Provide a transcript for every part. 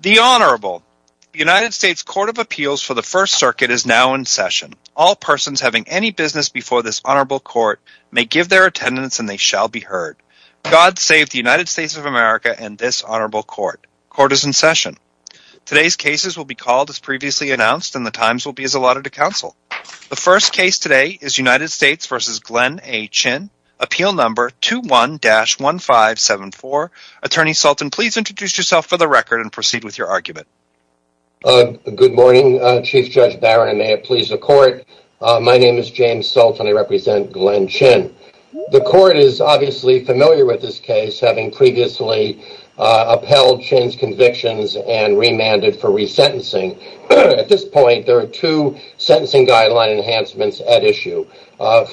The Honorable United States Court of Appeals for the First Circuit is now in session. All persons having any business before this honorable court may give their attendance and they shall be heard. God save the United States of America and this honorable court. Court is in session. Today's cases will be called as previously announced and the times will be as allotted to counsel. The first case today is United States v. Glenn A. Chin Appeal Number 21-1574. Attorney Sultan, please introduce yourself for the record and proceed with your argument. Good morning, Chief Judge Barron, and may it please the court. My name is James Sultan. I represent Glenn Chin. The court is obviously familiar with this case, having previously upheld Chin's convictions and remanded for resentencing. At this point, there are two sentencing guideline enhancements at issue.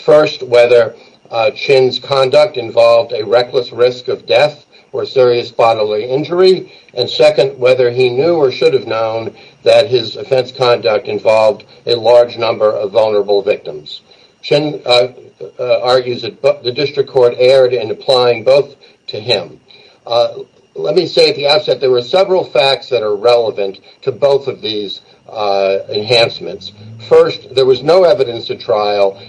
First, whether he had a reckless risk of death or serious bodily injury, and second, whether he knew or should have known that his offense conduct involved a large number of vulnerable victims. Chin argues that the district court erred in applying both to him. Let me say at the outset there were several facts that are relevant to both of these enhancements. First, there was no evidence at trial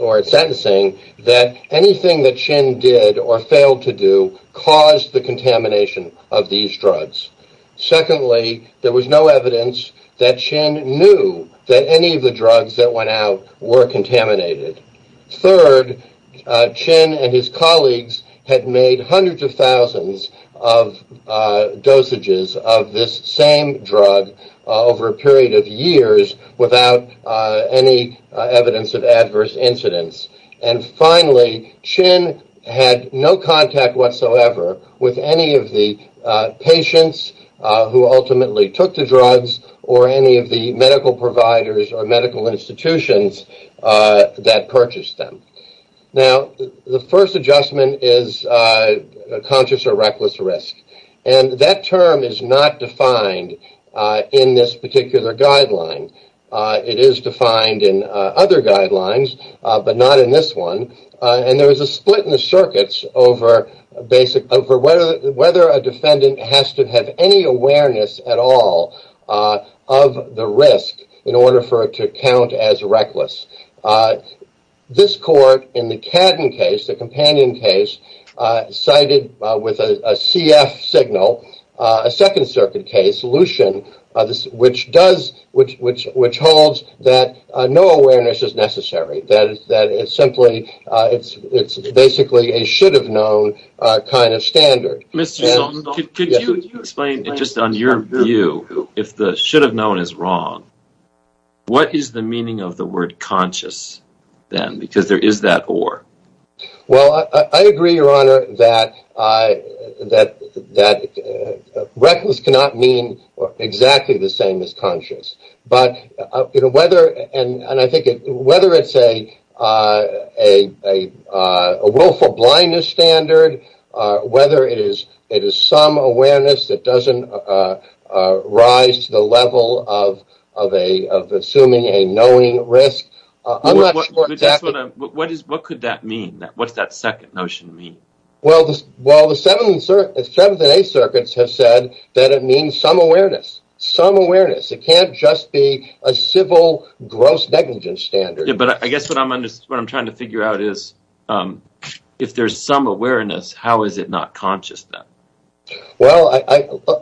or at sentencing that anything that Chin did or failed to do caused the contamination of these drugs. Secondly, there was no evidence that Chin knew that any of the drugs that went out were contaminated. Third, Chin and his colleagues had made hundreds of thousands of dosages of this same drug over a period of years without any evidence of adverse incidents. Finally, Chin had no contact whatsoever with any of the patients who ultimately took the drugs or any of the medical providers or medical institutions that purchased them. The first adjustment is conscious or reckless risk. That term is not defined in this particular guideline. It is defined in other guidelines, but not in this one, and there is a split in the circuits over whether a defendant has to have any awareness at all of the risk in order for it to count as reckless. This court in the Cadden case, the companion case, cited with a CF signal, a Second Circuit case, Lushin, which holds that no awareness is necessary, that it's basically a should-have-known kind of standard. Mr. Zolkow, could you explain, just on your view, if the should-have-known is wrong, what is the meaning of the word conscious then? Because there is that or. I agree, Your Honor, that reckless cannot mean exactly the same as conscious, but whether it's a willful blindness standard, whether it is some awareness that doesn't rise to the level of assuming a knowing risk, I'm What's that second notion mean? Well, the Seventh and Eighth Circuits have said that it means some awareness. Some awareness. It can't just be a civil gross negligence standard. Yeah, but I guess what I'm trying to figure out is, if there's some awareness, how is it not conscious then? Well,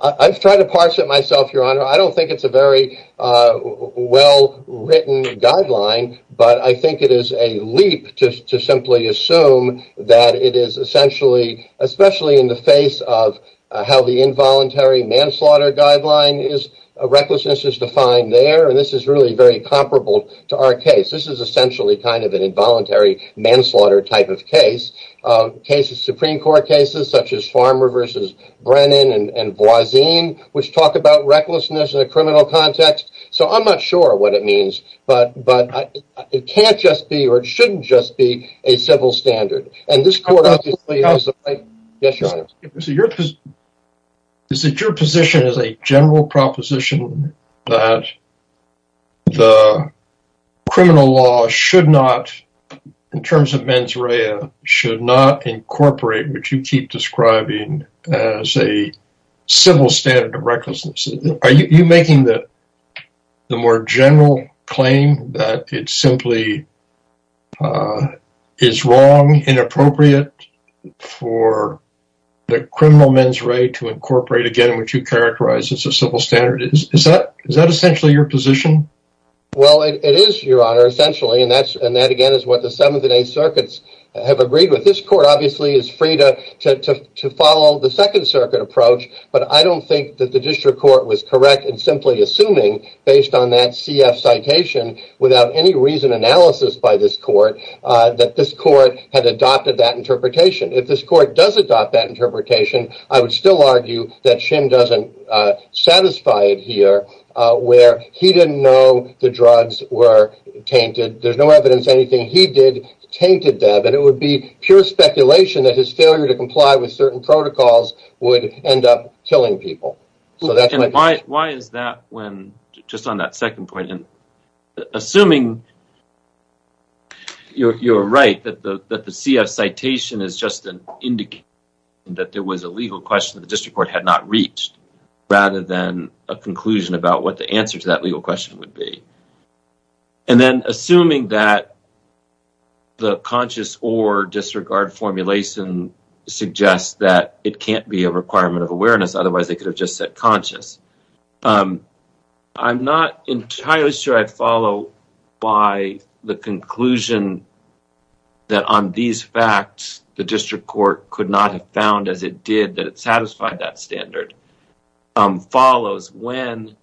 I've tried to parse it myself, Your Honor. I don't think it's a very well-written guideline, but I think it is a leap to simply assume that it is essentially, especially in the face of how the involuntary manslaughter guideline is, recklessness is defined there, and this is really very comparable to our case. This is essentially kind of an involuntary manslaughter type of case. Cases, Supreme Court cases, such as Farmer v. Brennan and Voisin, which talk about recklessness in a criminal context. So I'm not sure what it means, but it can't just be, or it shouldn't just be, a civil standard. And this court obviously has the right to... Yes, Your Honor. Is it your position as a general proposition that the criminal law should not, in terms of mens rea, should not incorporate what you keep describing as a civil standard of recklessness? Are you making the more general claim that it simply is wrong, inappropriate for the criminal mens rea to incorporate, again, what you characterize as a civil standard? Is that essentially your position? Well, it is, Your Honor, essentially. And that, again, is what the Seventh and Eighth Circuits have agreed with. This court obviously is free to follow the Second Circuit approach, but I don't think that the district court was correct in simply assuming, based on that CF citation, without any reason analysis by this court, that this court had adopted that interpretation. If this court does adopt that interpretation, I would still argue that Shim doesn't satisfy it here, where he didn't know the drugs were tainted. There's no evidence anything he did tainted them, and it would be pure speculation that his failure to comply with certain protocols would end up killing people. Why is that when, just on that second point, assuming you're right, that the CF citation is just an indication that there was a legal question that the district court had not reached, rather than a conclusion about what the answer to that legal question would be. And then, assuming that the conscious or disregard formulation suggests that it can't be a requirement of awareness, otherwise they could have just said conscious. I'm not entirely sure I'd follow by the conclusion that on these facts, the district court could not have found, as it did, that it satisfied that standard, follows when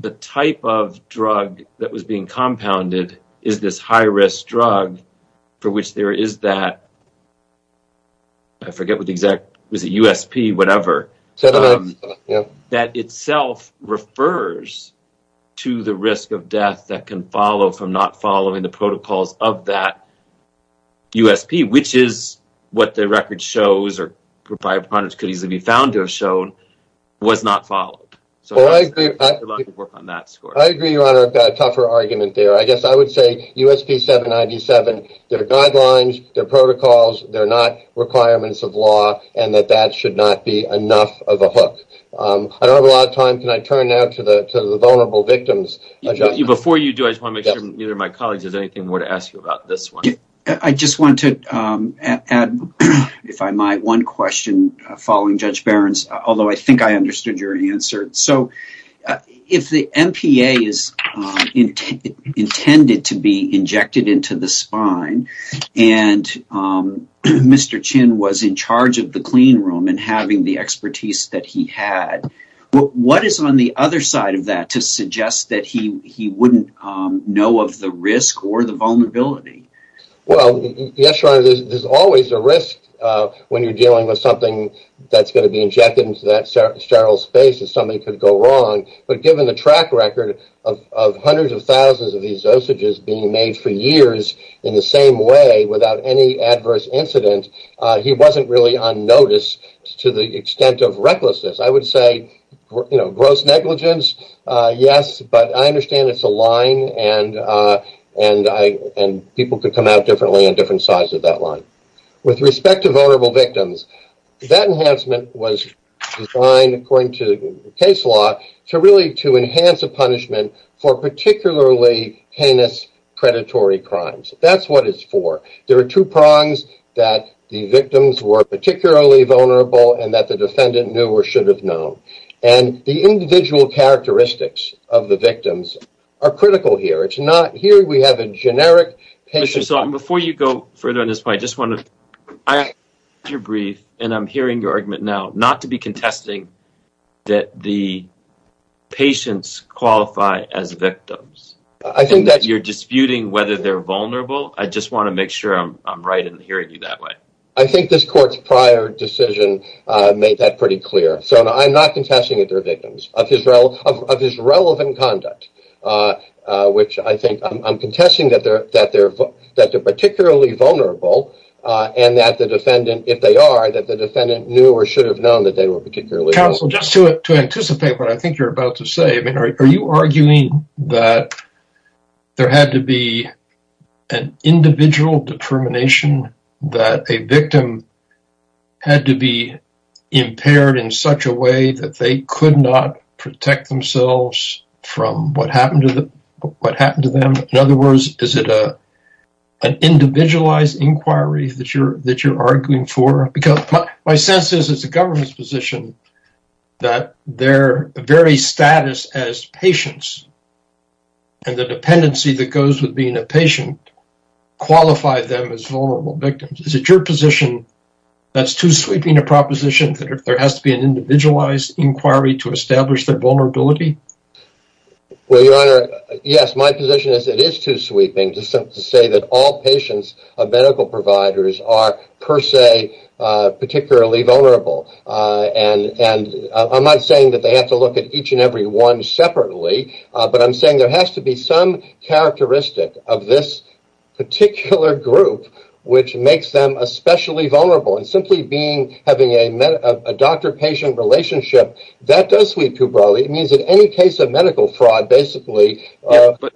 the type of drug that was being compounded is this high-risk drug for which there is that, I forget what the exact, was it USP, whatever, that itself refers to the risk of death that can follow from not following the protocols of that USP, which is what the record shows, or could easily be found to have shown, was not followed. I agree, Your Honor, I've got a tougher argument there. I guess I would say USP 797, their guidelines, their protocols, they're not requirements of law, and that that should not be enough of a hook. I don't have a lot of time, can I turn now to the vulnerable victims? Before you do, I just want to make sure that neither of my colleagues has anything more to ask you about this one. I just want to add, if I might, one question following Judge Barron's, although I think I understood your answer. If the MPA is intended to be injected into the spine, and Mr. Chin was in charge of the clean room and having the expertise that he had, what is on the other side of that to suggest that he wouldn't know of the risk or the vulnerability? Yes, Your Honor, there's always a risk when you're dealing with something that's going to be injected into that sterile space that something could go wrong, but given the track record of hundreds of thousands of these dosages being made for years in the same way without any adverse incident, he wasn't really on notice to the extent of recklessness. I would say gross negligence, yes, but I understand it's a line and people could come out differently in different sides of that line. With respect to vulnerable victims, that enhancement was designed, according to case law, to enhance a punishment for particularly heinous predatory crimes. That's what it's for. There are two prongs that the victims were particularly vulnerable and that the defendant knew or should have known, and the individual characteristics of the victims are critical here. It's not here we have a generic patient. Before you go further on this point, I just want to be brief, and I'm hearing your argument now, not to be contesting that the patients qualify as victims, and that you're disputing whether they're vulnerable. I just want to make sure I'm right in hearing you that way. I think this court's prior decision made that pretty clear. I'm not contesting that they're victims of his relevant conduct, which I think I'm contesting that they're particularly vulnerable and that the defendant, if they are, that the defendant knew or should have known that they were particularly vulnerable. Counsel, just to anticipate what I think you're about to say, are you arguing that there had to be an individual determination that a victim had to be impaired in such a way that they could not protect themselves from what happened to them? In other words, is it an individualized inquiry that you're arguing for? My sense is, as a government's position, that their very status as patients and the dependency that goes with being a patient qualify them as vulnerable victims. Is it your position that's too sweeping a proposition that there has to be an individualized inquiry to establish their vulnerability? Well, Your Honor, yes, my position is it is too sweeping to say that all patients of medical providers are, per se, particularly vulnerable. I'm not saying that they have to look at each and every one separately, but I'm saying there has to be some characteristic of this particular group which makes them especially vulnerable. Simply having a doctor-patient relationship, that does sweep too broadly. It means that any case of medical fraud, basically,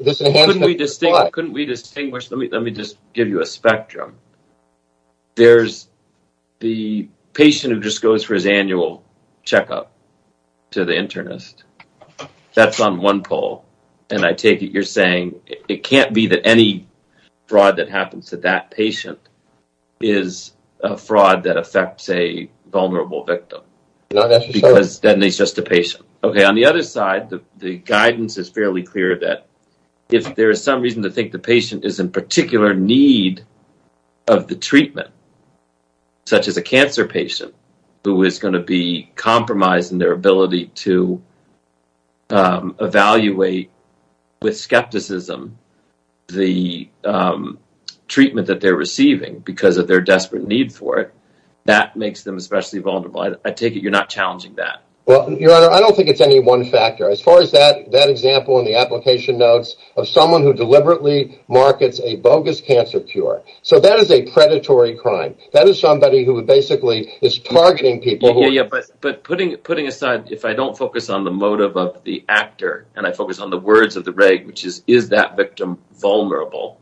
this enhancement would apply. Couldn't we distinguish? Let me just give you a spectrum. There's the patient who just goes for his annual checkup to the internist. That's on one pole, and I take it you're saying it can't be that any fraud that happens to that patient is a fraud that affects a vulnerable victim, because then it's just a patient. On the other side, the guidance is fairly clear that if there is some reason to think the patient is in particular need of the treatment, such as a cancer patient who is going to be evaluated with skepticism, the treatment that they're receiving, because of their desperate need for it, that makes them especially vulnerable. I take it you're not challenging that. Your Honor, I don't think it's any one factor. As far as that example in the application notes of someone who deliberately markets a bogus cancer cure, that is a predatory crime. That is somebody who basically is targeting people. Putting aside, if I don't focus on the motive of the actor, and I focus on the words of the reg, which is, is that victim vulnerable?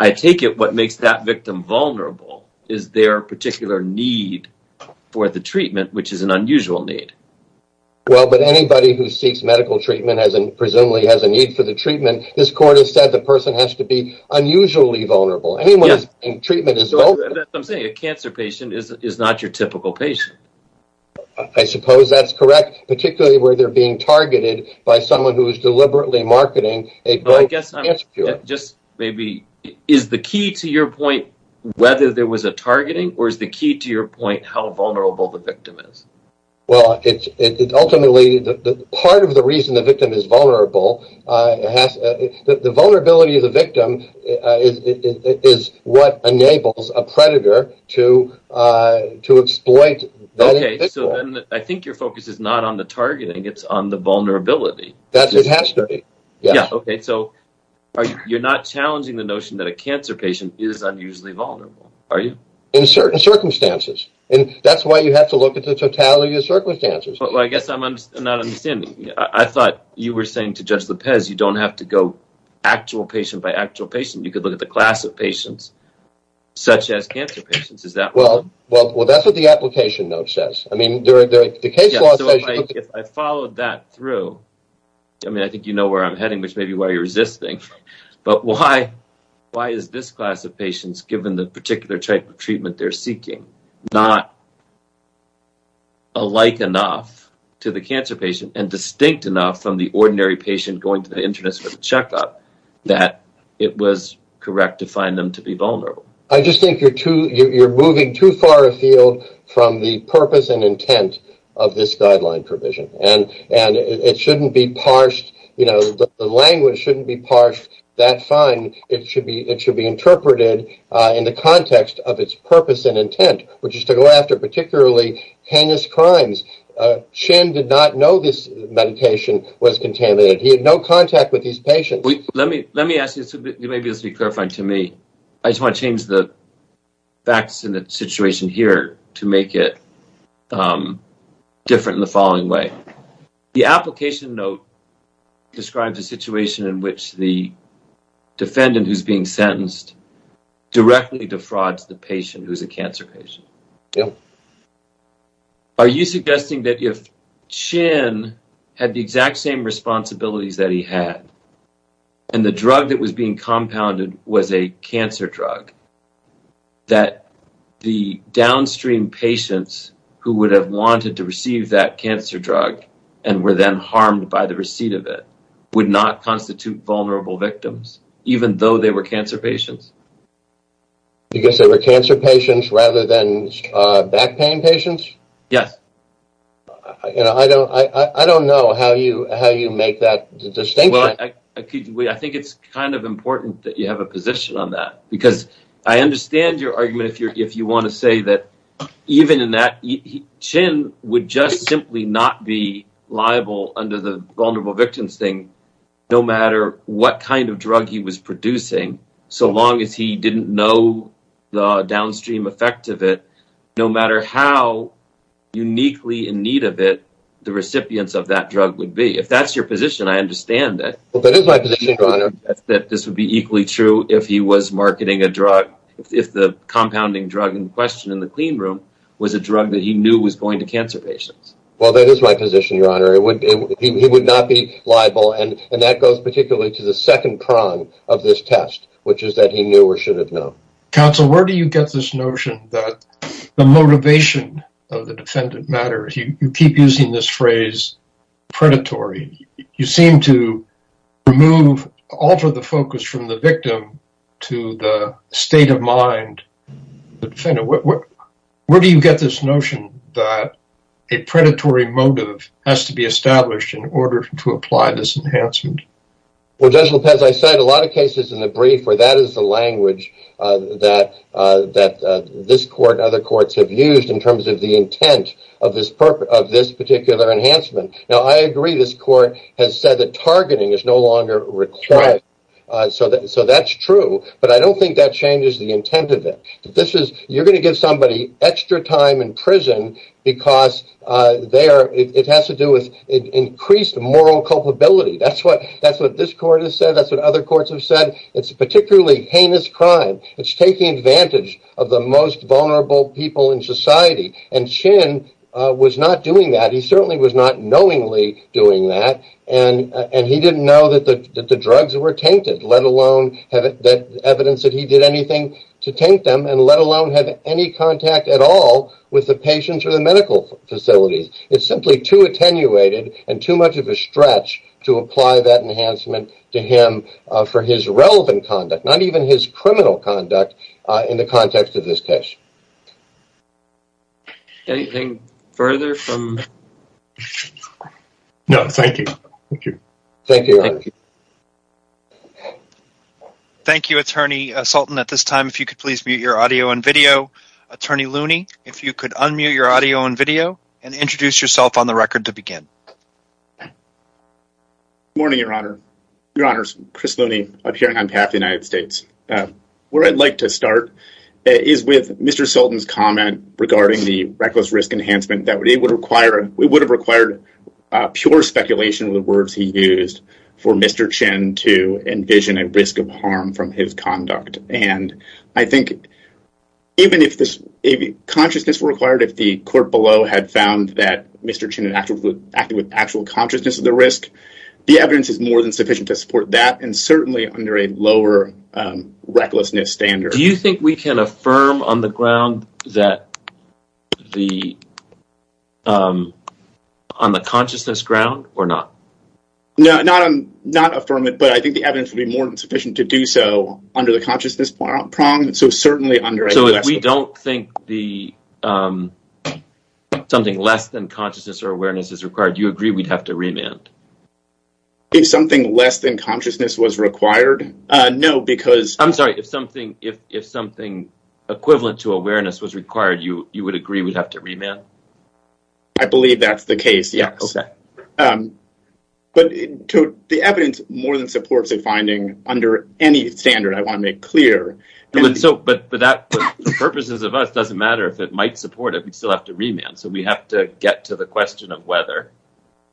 I take it what makes that victim vulnerable is their particular need for the treatment, which is an unusual need. Well, but anybody who seeks medical treatment presumably has a need for the treatment. This Court has said the person has to be unusually vulnerable. Anyone who is seeking treatment is vulnerable. I'm saying a cancer patient is not your typical patient. I suppose that's correct, particularly where they're being targeted by someone who is deliberately marketing a great cancer cure. Just maybe, is the key to your point whether there was a targeting, or is the key to your point how vulnerable the victim is? Well, ultimately, part of the reason the victim is vulnerable, the vulnerability of the predator to exploit the victim. Okay, so then I think your focus is not on the targeting, it's on the vulnerability. It has to be. Yeah, okay, so you're not challenging the notion that a cancer patient is unusually vulnerable, are you? In certain circumstances, and that's why you have to look at the totality of circumstances. Well, I guess I'm not understanding. I thought you were saying to Judge Lopez you don't have to go actual patient by actual patient. You could look at the class of patients, such as cancer patients. Is that right? Well, that's what the application note says. I mean, the case law says... If I followed that through, I mean, I think you know where I'm heading, which may be why you're resisting, but why is this class of patients, given the particular type of treatment they're seeking, not alike enough to the cancer patient and distinct enough from the correct to find them to be vulnerable? I just think you're moving too far afield from the purpose and intent of this guideline provision, and it shouldn't be parsed. The language shouldn't be parsed that fine. It should be interpreted in the context of its purpose and intent, which is to go after particularly heinous crimes. Shin did not know this medication was contaminated. He had no contact with these patients. Let me ask you, maybe this will be clarifying to me. I just want to change the facts in the situation here to make it different in the following way. The application note describes a situation in which the defendant who's being sentenced directly defrauds the patient who's a cancer patient. Are you suggesting that if Shin had the exact same responsibilities that he had, and the drug that was being compounded was a cancer drug, that the downstream patients who would have wanted to receive that cancer drug and were then harmed by the receipt of it would not constitute vulnerable victims, even though they were cancer patients? Because they were cancer patients rather than back pain patients? Yes. I don't know how you make that distinction. I think it's kind of important that you have a position on that, because I understand your argument if you want to say that even in that, Shin would just simply not be liable under the vulnerable victims thing, no matter what kind of drug he was producing, so long as he didn't know the downstream effect of it, no matter how uniquely in need of it the recipients of that drug would be. If that's your position, I understand that this would be equally true if he was marketing a drug, if the compounding drug in question in the clean room was a drug that he knew was going to cancer patients. Well, that is my position, Your Honor. He would not be liable, and that goes particularly to the second prong of this test, which is that he knew or should have known. Counsel, where do you get this notion that the motivation of the defendant matters? You keep using this phrase, predatory. You seem to remove, alter the focus from the victim to the state of mind of the defendant. Where do you get this notion that a predatory motive has to be established in order to apply this enhancement? Well, Judge Lopez, I cite a lot of cases in the brief where that is the language that this court and other courts have used in terms of the intent of this particular enhancement. I agree this court has said that targeting is no longer required, so that's true, but I don't think that changes the intent of it. You're going to give somebody extra time in prison because it has to do with increased moral culpability. That's what this court has said. That's what other courts have said. It's a particularly heinous crime. It's taking advantage of the most vulnerable people in society, and Chin was not doing that. He certainly was not knowingly doing that, and he didn't know that the drugs were tainted, let alone evidence that he did anything to taint them, and let alone have any contact at all with the patients or the medical facilities. It's simply too attenuated and too much of a stretch to apply that enhancement to him for his relevant conduct, not even his criminal conduct in the context of this case. Anything further from... No. Thank you. Thank you. Thank you. Thank you, Attorney Sultan. At this time, if you could please mute your audio and video. Attorney Looney, if you could unmute your audio and video and introduce yourself on the record to begin. Good morning, Your Honor. Your Honors, Chris Looney, appearing on behalf of the United States. Where I'd like to start is with Mr. Sultan's comment regarding the reckless risk enhancement that it would have required pure speculation of the words he used for Mr. Chin to envision a risk of harm from his conduct, and I think even if consciousness were required, if the court below had found that Mr. Chin had acted with actual consciousness of the risk, the evidence would be more than sufficient to support that, and certainly under a lower recklessness standard. Do you think we can affirm on the ground that the... on the consciousness ground or not? No, not affirm it, but I think the evidence would be more than sufficient to do so under the consciousness prong, so certainly under... So if we don't think the... something less than consciousness or awareness is required, you agree we'd have to remand? If something less than consciousness was required? No, because... I'm sorry, if something equivalent to awareness was required, you would agree we'd have to remand? I believe that's the case, yes. But the evidence more than supports a finding under any standard, I want to make clear. And so, but that, for purposes of us, it doesn't matter if it might support it, we'd still have to remand, so we have to get to the question of whether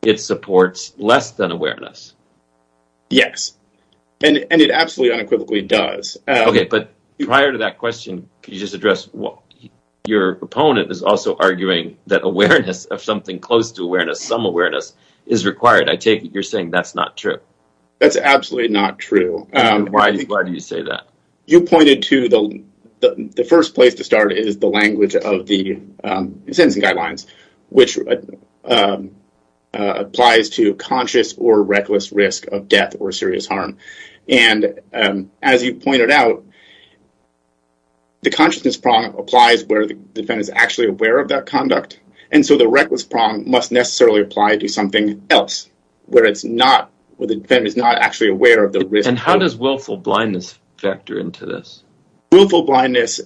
it supports remand. Less than awareness? Yes, and it absolutely unequivocally does. Okay, but prior to that question, could you just address what your opponent is also arguing that awareness of something close to awareness, some awareness, is required. I take it you're saying that's not true? That's absolutely not true. Why do you say that? You pointed to the first place to start is the language of the Sentencing Guidelines, which applies to conscious or reckless risk of death or serious harm, and as you pointed out, the consciousness prong applies where the defendant is actually aware of that conduct, and so the reckless prong must necessarily apply to something else, where it's not, where the defendant is not actually aware of the risk. And how does willful blindness factor into this? Willful blindness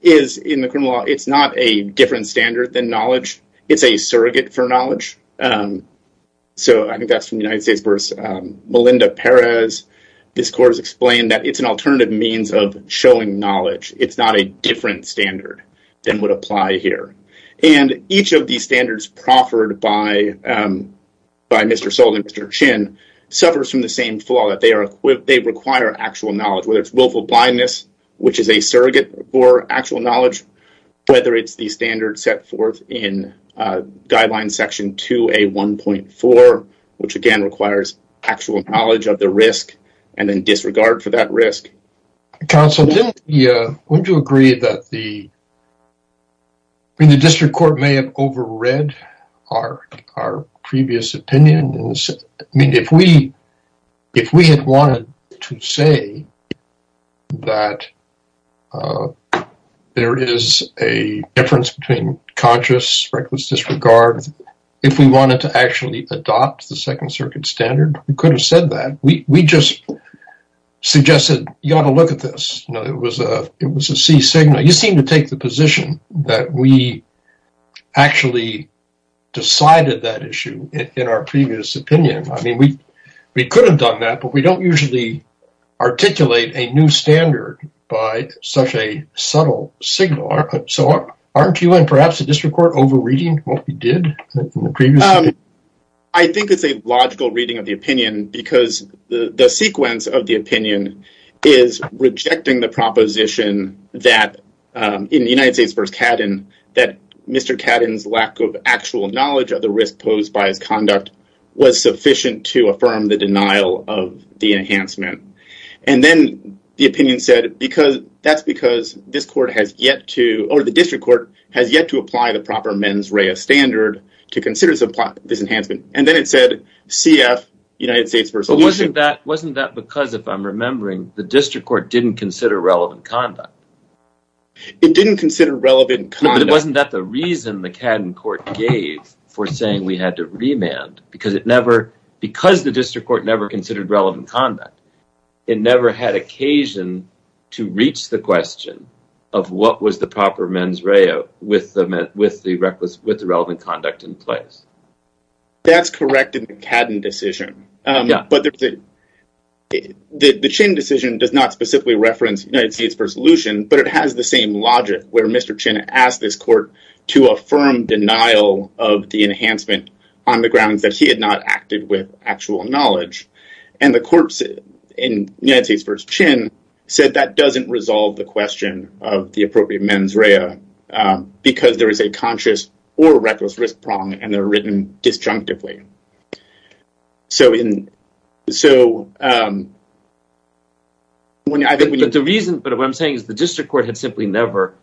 is, in the criminal law, it's not a different standard than knowledge. It's a surrogate for knowledge, so I think that's from United States v. Melinda Perez. This court has explained that it's an alternative means of showing knowledge. It's not a different standard than would apply here, and each of these standards proffered by Mr. Soule and Mr. Chin suffers from the same flaw, that they require actual knowledge, whether it's willful blindness, which is a surrogate for actual knowledge, whether it's the standard set forth in Guidelines Section 2A1.4, which, again, requires actual knowledge of the risk and then disregard for that risk. Counsel, wouldn't you agree that the District Court may have overread our previous opinion? I mean, if we had wanted to say that there is a difference between conscious reckless disregard, if we wanted to actually adopt the Second Circuit standard, we could have said that. We just suggested, you ought to look at this. You know, it was a C signal. You seem to take the position that we actually decided that issue in our previous opinion. I mean, we could have done that, but we don't usually articulate a new standard by such a subtle signal, so aren't you and perhaps the District Court overreading what we did in the previous opinion? I think it's a logical reading of the opinion because the sequence of the opinion is rejecting the proposition that in the United States v. Cadden, that Mr. Cadden's lack of actual knowledge of the risk posed by his conduct was sufficient to affirm the denial of the enhancement, and then the opinion said that's because the District Court has yet to apply the proper mens rea standard to consider this enhancement, and then it said CF, United States v. Cadden, didn't consider relevant conduct. It didn't consider relevant conduct. But wasn't that the reason the Cadden court gave for saying we had to remand because the District Court never considered relevant conduct. It never had occasion to reach the question of what was the proper mens rea with the relevant conduct in place. That's correct in the Cadden decision, but the Chin decision does not specifically reference United States v. Lucien, but it has the same logic where Mr. Chin asked this court to affirm denial of the enhancement on the grounds that he had not acted with actual knowledge, and the courts in United States v. Chin said that doesn't resolve the question of the appropriate mens rea because there is a conscious or reckless risk prong and they're written disjunctively. But what I'm saying is the District Court had simply never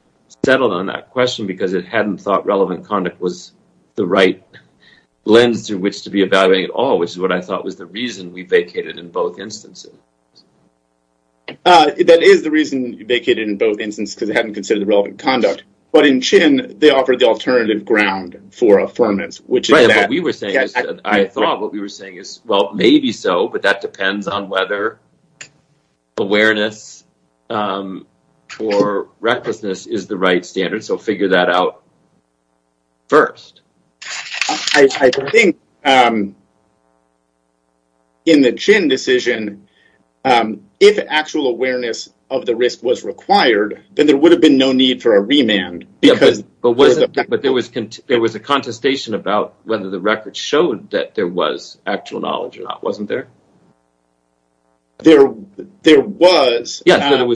settled on that question because it hadn't thought relevant conduct was the right lens through which to be evaluating at all, which is what I thought was the reason we vacated in both instances. That is the reason we vacated in both instances because they hadn't considered the relevant conduct, but in Chin, they offered the alternative ground for affirmance. What we were saying, I thought what we were saying is, well, maybe so, but that depends on whether awareness or recklessness is the right standard, so figure that out first. I think in the Chin decision, if actual awareness of the risk was required, then there would have been no need for a remand. But there was a contestation about whether the record showed that there was actual knowledge or not, wasn't there? So there was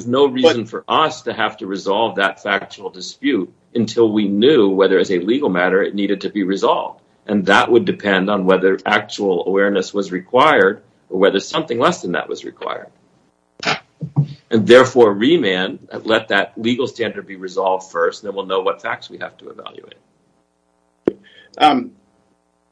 no reason for us to have to resolve that factual dispute until we knew whether as a legal matter it needed to be resolved, and that would depend on whether actual awareness was required or whether something less than that was required. And therefore, remand, let that legal standard be resolved first, then we'll know what facts we have to evaluate.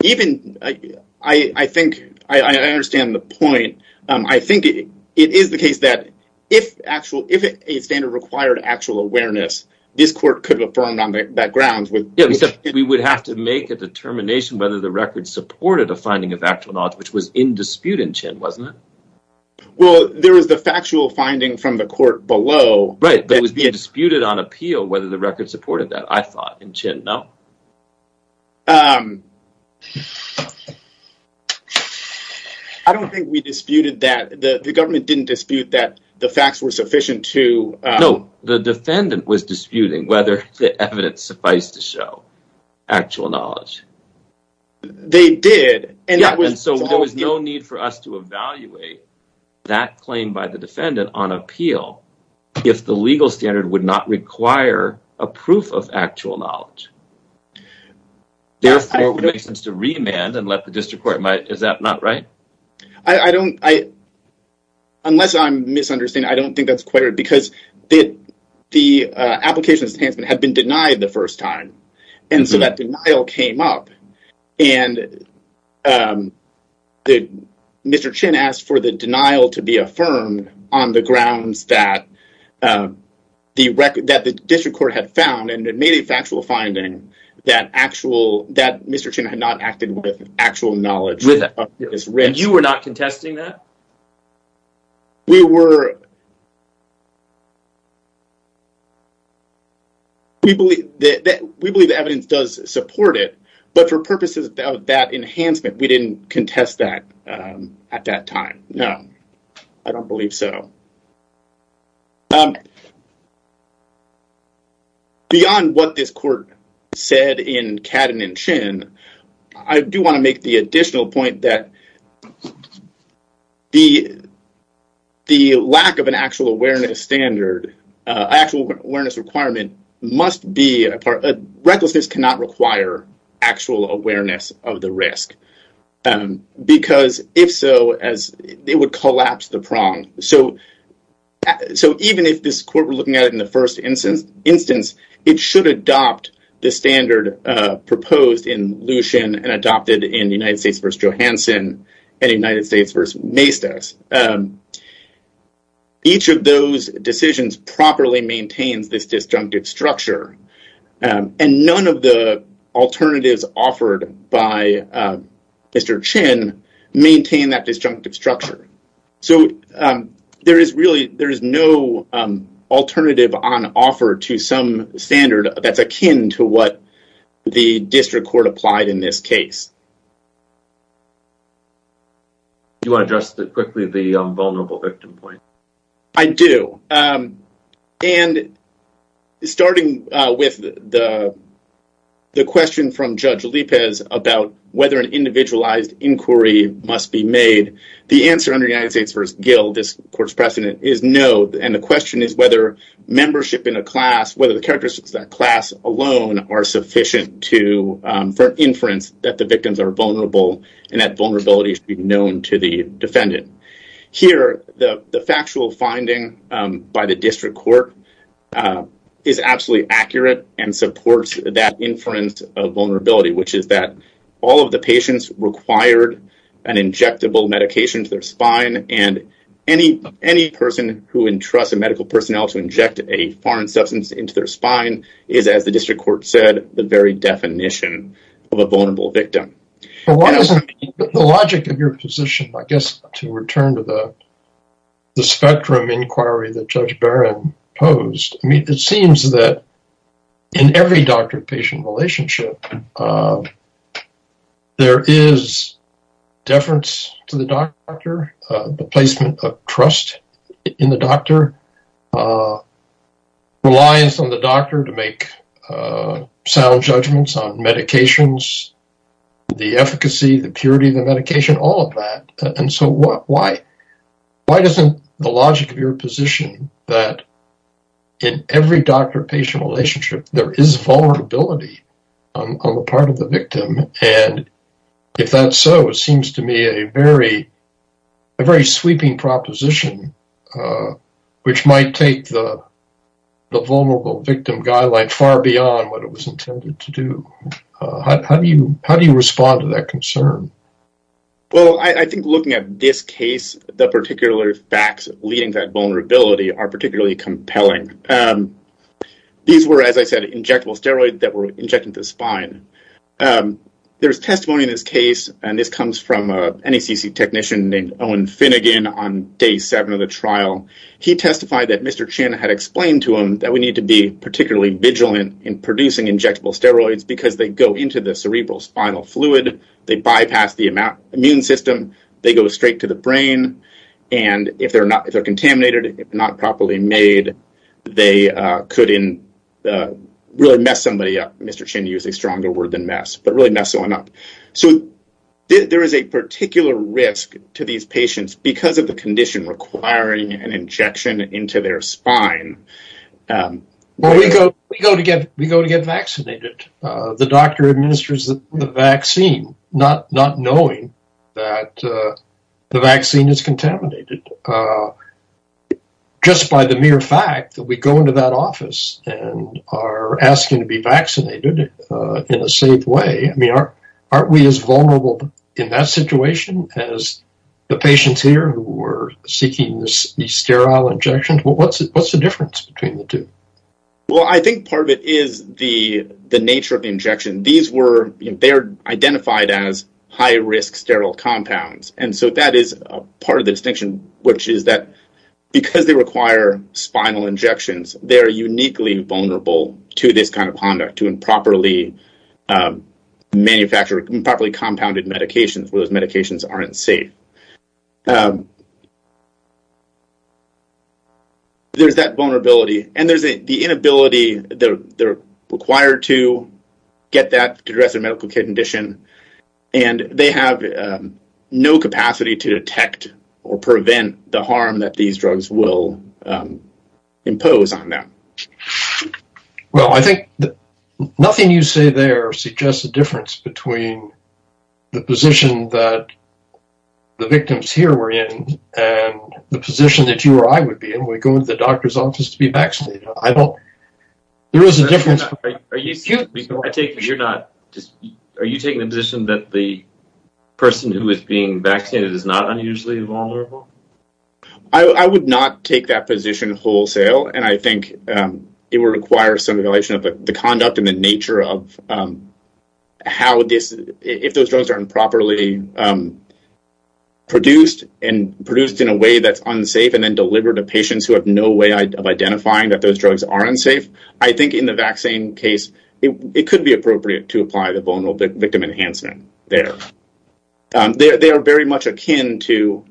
Even, I think, I understand the point, I think it is the case that if actual, if a standard required actual awareness, this court could have affirmed on that ground. Yeah, except we would have to make a determination whether the record supported a finding of actual knowledge, which was in dispute in Chin, wasn't it? Well, there was the factual finding from the court below. Right, that was being disputed on appeal, whether the record supported that, I thought in Chin, no. I don't think we disputed that, the government didn't dispute that the facts were sufficient to... No, the defendant was disputing whether the evidence sufficed to show actual knowledge. They did. So there was no need for us to evaluate that claim by the defendant on appeal if the legal standard would not require a proof of actual knowledge. Therefore, it would make sense to remand and let the district court... Is that not right? Unless I'm misunderstanding, I don't think that's quite right, because the application had been denied the first time, and so that denial came up, and Mr. Chin asked for the denial to be affirmed on the grounds that the district court had found, and it made a factual finding, that Mr. Chin had not acted with actual knowledge. You were not contesting that? No, we believe the evidence does support it, but for purposes of that enhancement, we didn't contest that at that time. No, I don't believe so. Beyond what this court said in Cadden and Chin, I do want to make the additional point that the lack of an actual awareness requirement must be a part... Recklessness cannot require actual awareness of the risk, because if so, it would collapse the prong. So even if this court were looking at it in the first instance, it should adopt the standard proposed in Lewisham and adopted in United States v. Johansson and United States v. Maestas. Each of those decisions properly maintains this disjunctive structure, and none of the alternatives offered by Mr. Chin maintain that disjunctive structure. So there is really... offer to some standard that's akin to what the district court applied in this case. Do you want to address quickly the vulnerable victim point? I do. And starting with the question from Judge Lipez about whether an individualized inquiry must be made, the answer under United States v. Gill, this court's precedent, is no, and the question is whether membership in a class, whether the characteristics of that class alone are sufficient for inference that the victims are vulnerable and that vulnerability should be known to the defendant. Here, the factual finding by the district court is absolutely accurate and supports that inference of vulnerability, which is that all of the patients required an injectable medication to their spine and any person who entrusts a medical personnel to inject a foreign substance into their spine is, as the district court said, the very definition of a vulnerable victim. The logic of your position, I guess, to return to the spectrum inquiry that Judge Barron posed, I mean, it seems that in every doctor-patient relationship, there is deference to the doctor, the placement of trust in the doctor, reliance on the doctor to make sound judgments on medications, the efficacy, the purity of the medication, all of that. And so why doesn't the logic of your position that in every doctor-patient relationship, there is vulnerability on the part of the victim? And if that's so, it seems to me a very sweeping proposition, which might take the vulnerable victim guideline far beyond what it was intended to do. How do you respond to that concern? Well, I think looking at this case, the particular facts leading to that vulnerability are particularly compelling. These were, as I said, injectable steroids that were injected into the spine. There's testimony in this case, and this comes from a NACC technician named Owen Finnegan on day seven of the trial. He testified that Mr. Chin had explained to him that we need to be particularly vigilant in producing injectable steroids because they go into the cerebral spinal fluid, they pass the immune system, they go straight to the brain, and if they're contaminated, if not properly made, they could really mess somebody up. Mr. Chin used a stronger word than mess, but really mess someone up. So there is a particular risk to these patients because of the condition requiring an injection into their spine. Well, we go to get vaccinated. The doctor administers the vaccine, not knowing that the vaccine is contaminated. Just by the mere fact that we go into that office and are asking to be vaccinated in a safe way, I mean, aren't we as vulnerable in that situation as the patients here who were seeking these sterile injections? What's the difference between the two? Well, I think part of it is the nature of the injection. They're identified as high-risk sterile compounds. And so that is part of the distinction, which is that because they require spinal injections, they're uniquely vulnerable to this kind of conduct, to improperly compounded medications where those medications aren't safe. There's that vulnerability, and there's the inability that they're required to get that to address their medical condition. And they have no capacity to detect or prevent the harm that these drugs will impose on them. Well, I think nothing you say there suggests a difference between the position that the victims here were in and the position that you or I would be in when we go into the doctor's office to be vaccinated. There is a difference. Are you taking the position that the person who is being vaccinated is not unusually vulnerable? I would not take that position wholesale. And I think it would require some evaluation of the conduct and the nature of how this, if those drugs are improperly produced, and produced in a way that's unsafe, and then delivered to patients who have no way of identifying that those drugs are unsafe. I think in the vaccine case, it could be appropriate to apply the vulnerable victim enhancement there. They are very much akin to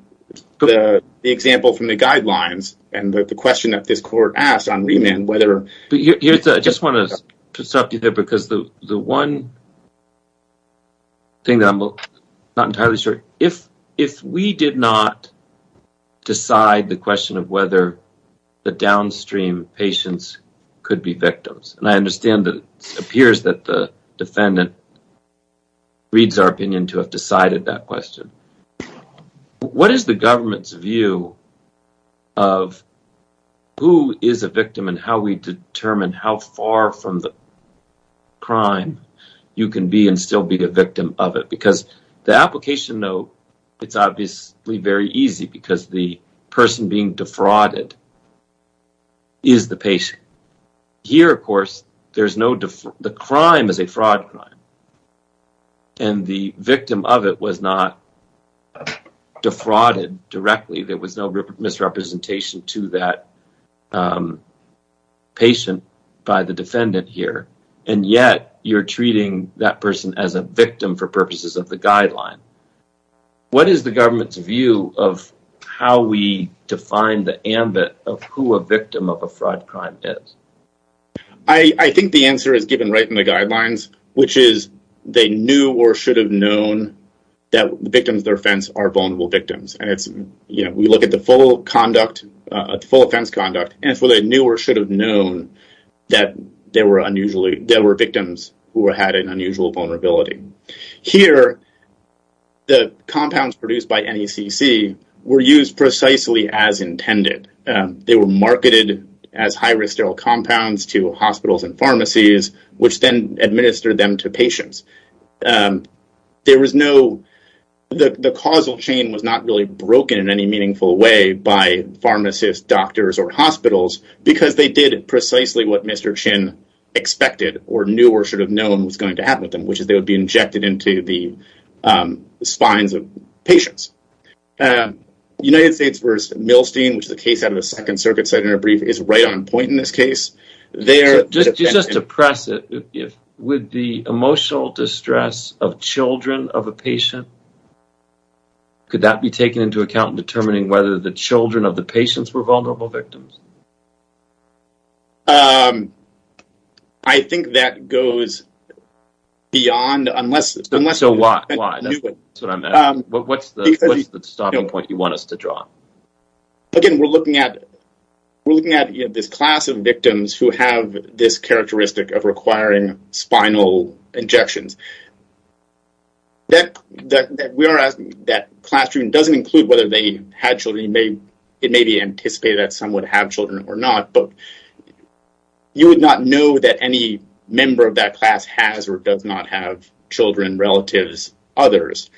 the example from the guidelines and the question that this court asked on remand whether... I just want to stop you there because the one thing that I'm not entirely sure, if we did not decide the question of whether the downstream patients could be victims, and I understand that it appears that the defendant reads our opinion to have decided that question, but what is the government's view of who is a victim and how we determine how far from the crime you can be and still be the victim of it? Because the application, though, it's obviously very easy because the person being defrauded is the patient. Here, of course, the crime is a fraud crime and the victim of it was not defrauded directly. There was no misrepresentation to that patient by the defendant here, and yet you're treating that person as a victim for purposes of the guideline. What is the government's view of how we define the ambit of who a victim of a fraud crime is? I think the answer is given right in the guidelines, which is they knew or should have known that the victims of their offense are vulnerable victims. We look at the full conduct, full offense conduct, and it's whether they knew or should have known that there were victims who had an unusual vulnerability. Here, the compounds produced by NECC were used precisely as intended. They were marketed as high-risk sterile compounds to hospitals and pharmacies, which then administered them to patients. The causal chain was not really broken in any meaningful way by pharmacists, doctors, or hospitals because they did precisely what Mr. Chin expected or knew or should have known was going to happen with them, which is they would be injected into the spines of patients. The United States v. Milstein, which is a case out of the Second Circuit, said in a brief, is right on point in this case. Just to press it, with the emotional distress of children of a patient, could that be taken into account in determining whether the children of the patients were vulnerable victims? I think that goes beyond unless... So why? That's what I'm asking. What's the stopping point you want us to draw? Again, we're looking at this class of victims who have this characteristic of requiring spinal injections. That classroom doesn't include whether they had children. It may be anticipated that some would have children or not, but you would not know that any member of that class has or does not have children, relatives, others.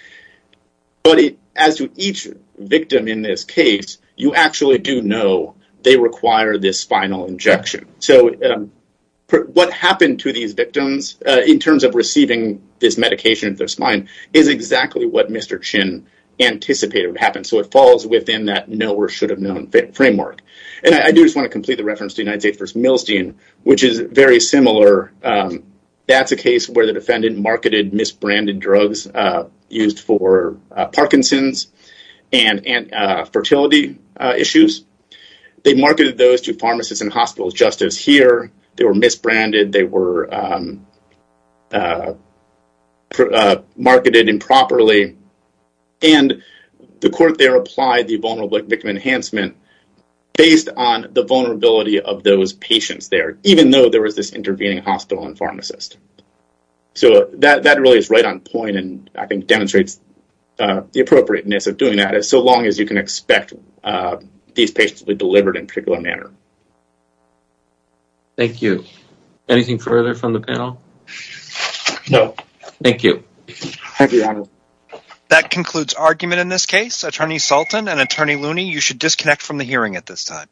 But as to each victim in this case, you actually do know they require this spinal injection. So what happened to these victims in terms of receiving this medication in their spine is exactly what Mr. Chin anticipated would happen. So it falls within that know or should have known framework. And I do just want to complete the reference to United States v. Milstein, which is very similar. That's a case where the defendant marketed misbranded drugs used for Parkinson's and fertility issues. They marketed those to pharmacists and hospitals just as here. They were misbranded. They were marketed improperly. And the court there applied the Vulnerable Victim Enhancement based on the vulnerability of those patients there, even though there was this intervening hospital and pharmacist. So that really is right on point and I think demonstrates the appropriateness of doing that as long as you can expect these patients to be delivered in a particular manner. Thank you. Anything further from the panel? No. Thank you. Thank you, Adam. That concludes argument in this case. Attorney Sultan and Attorney Looney. You should disconnect from the hearing at this time.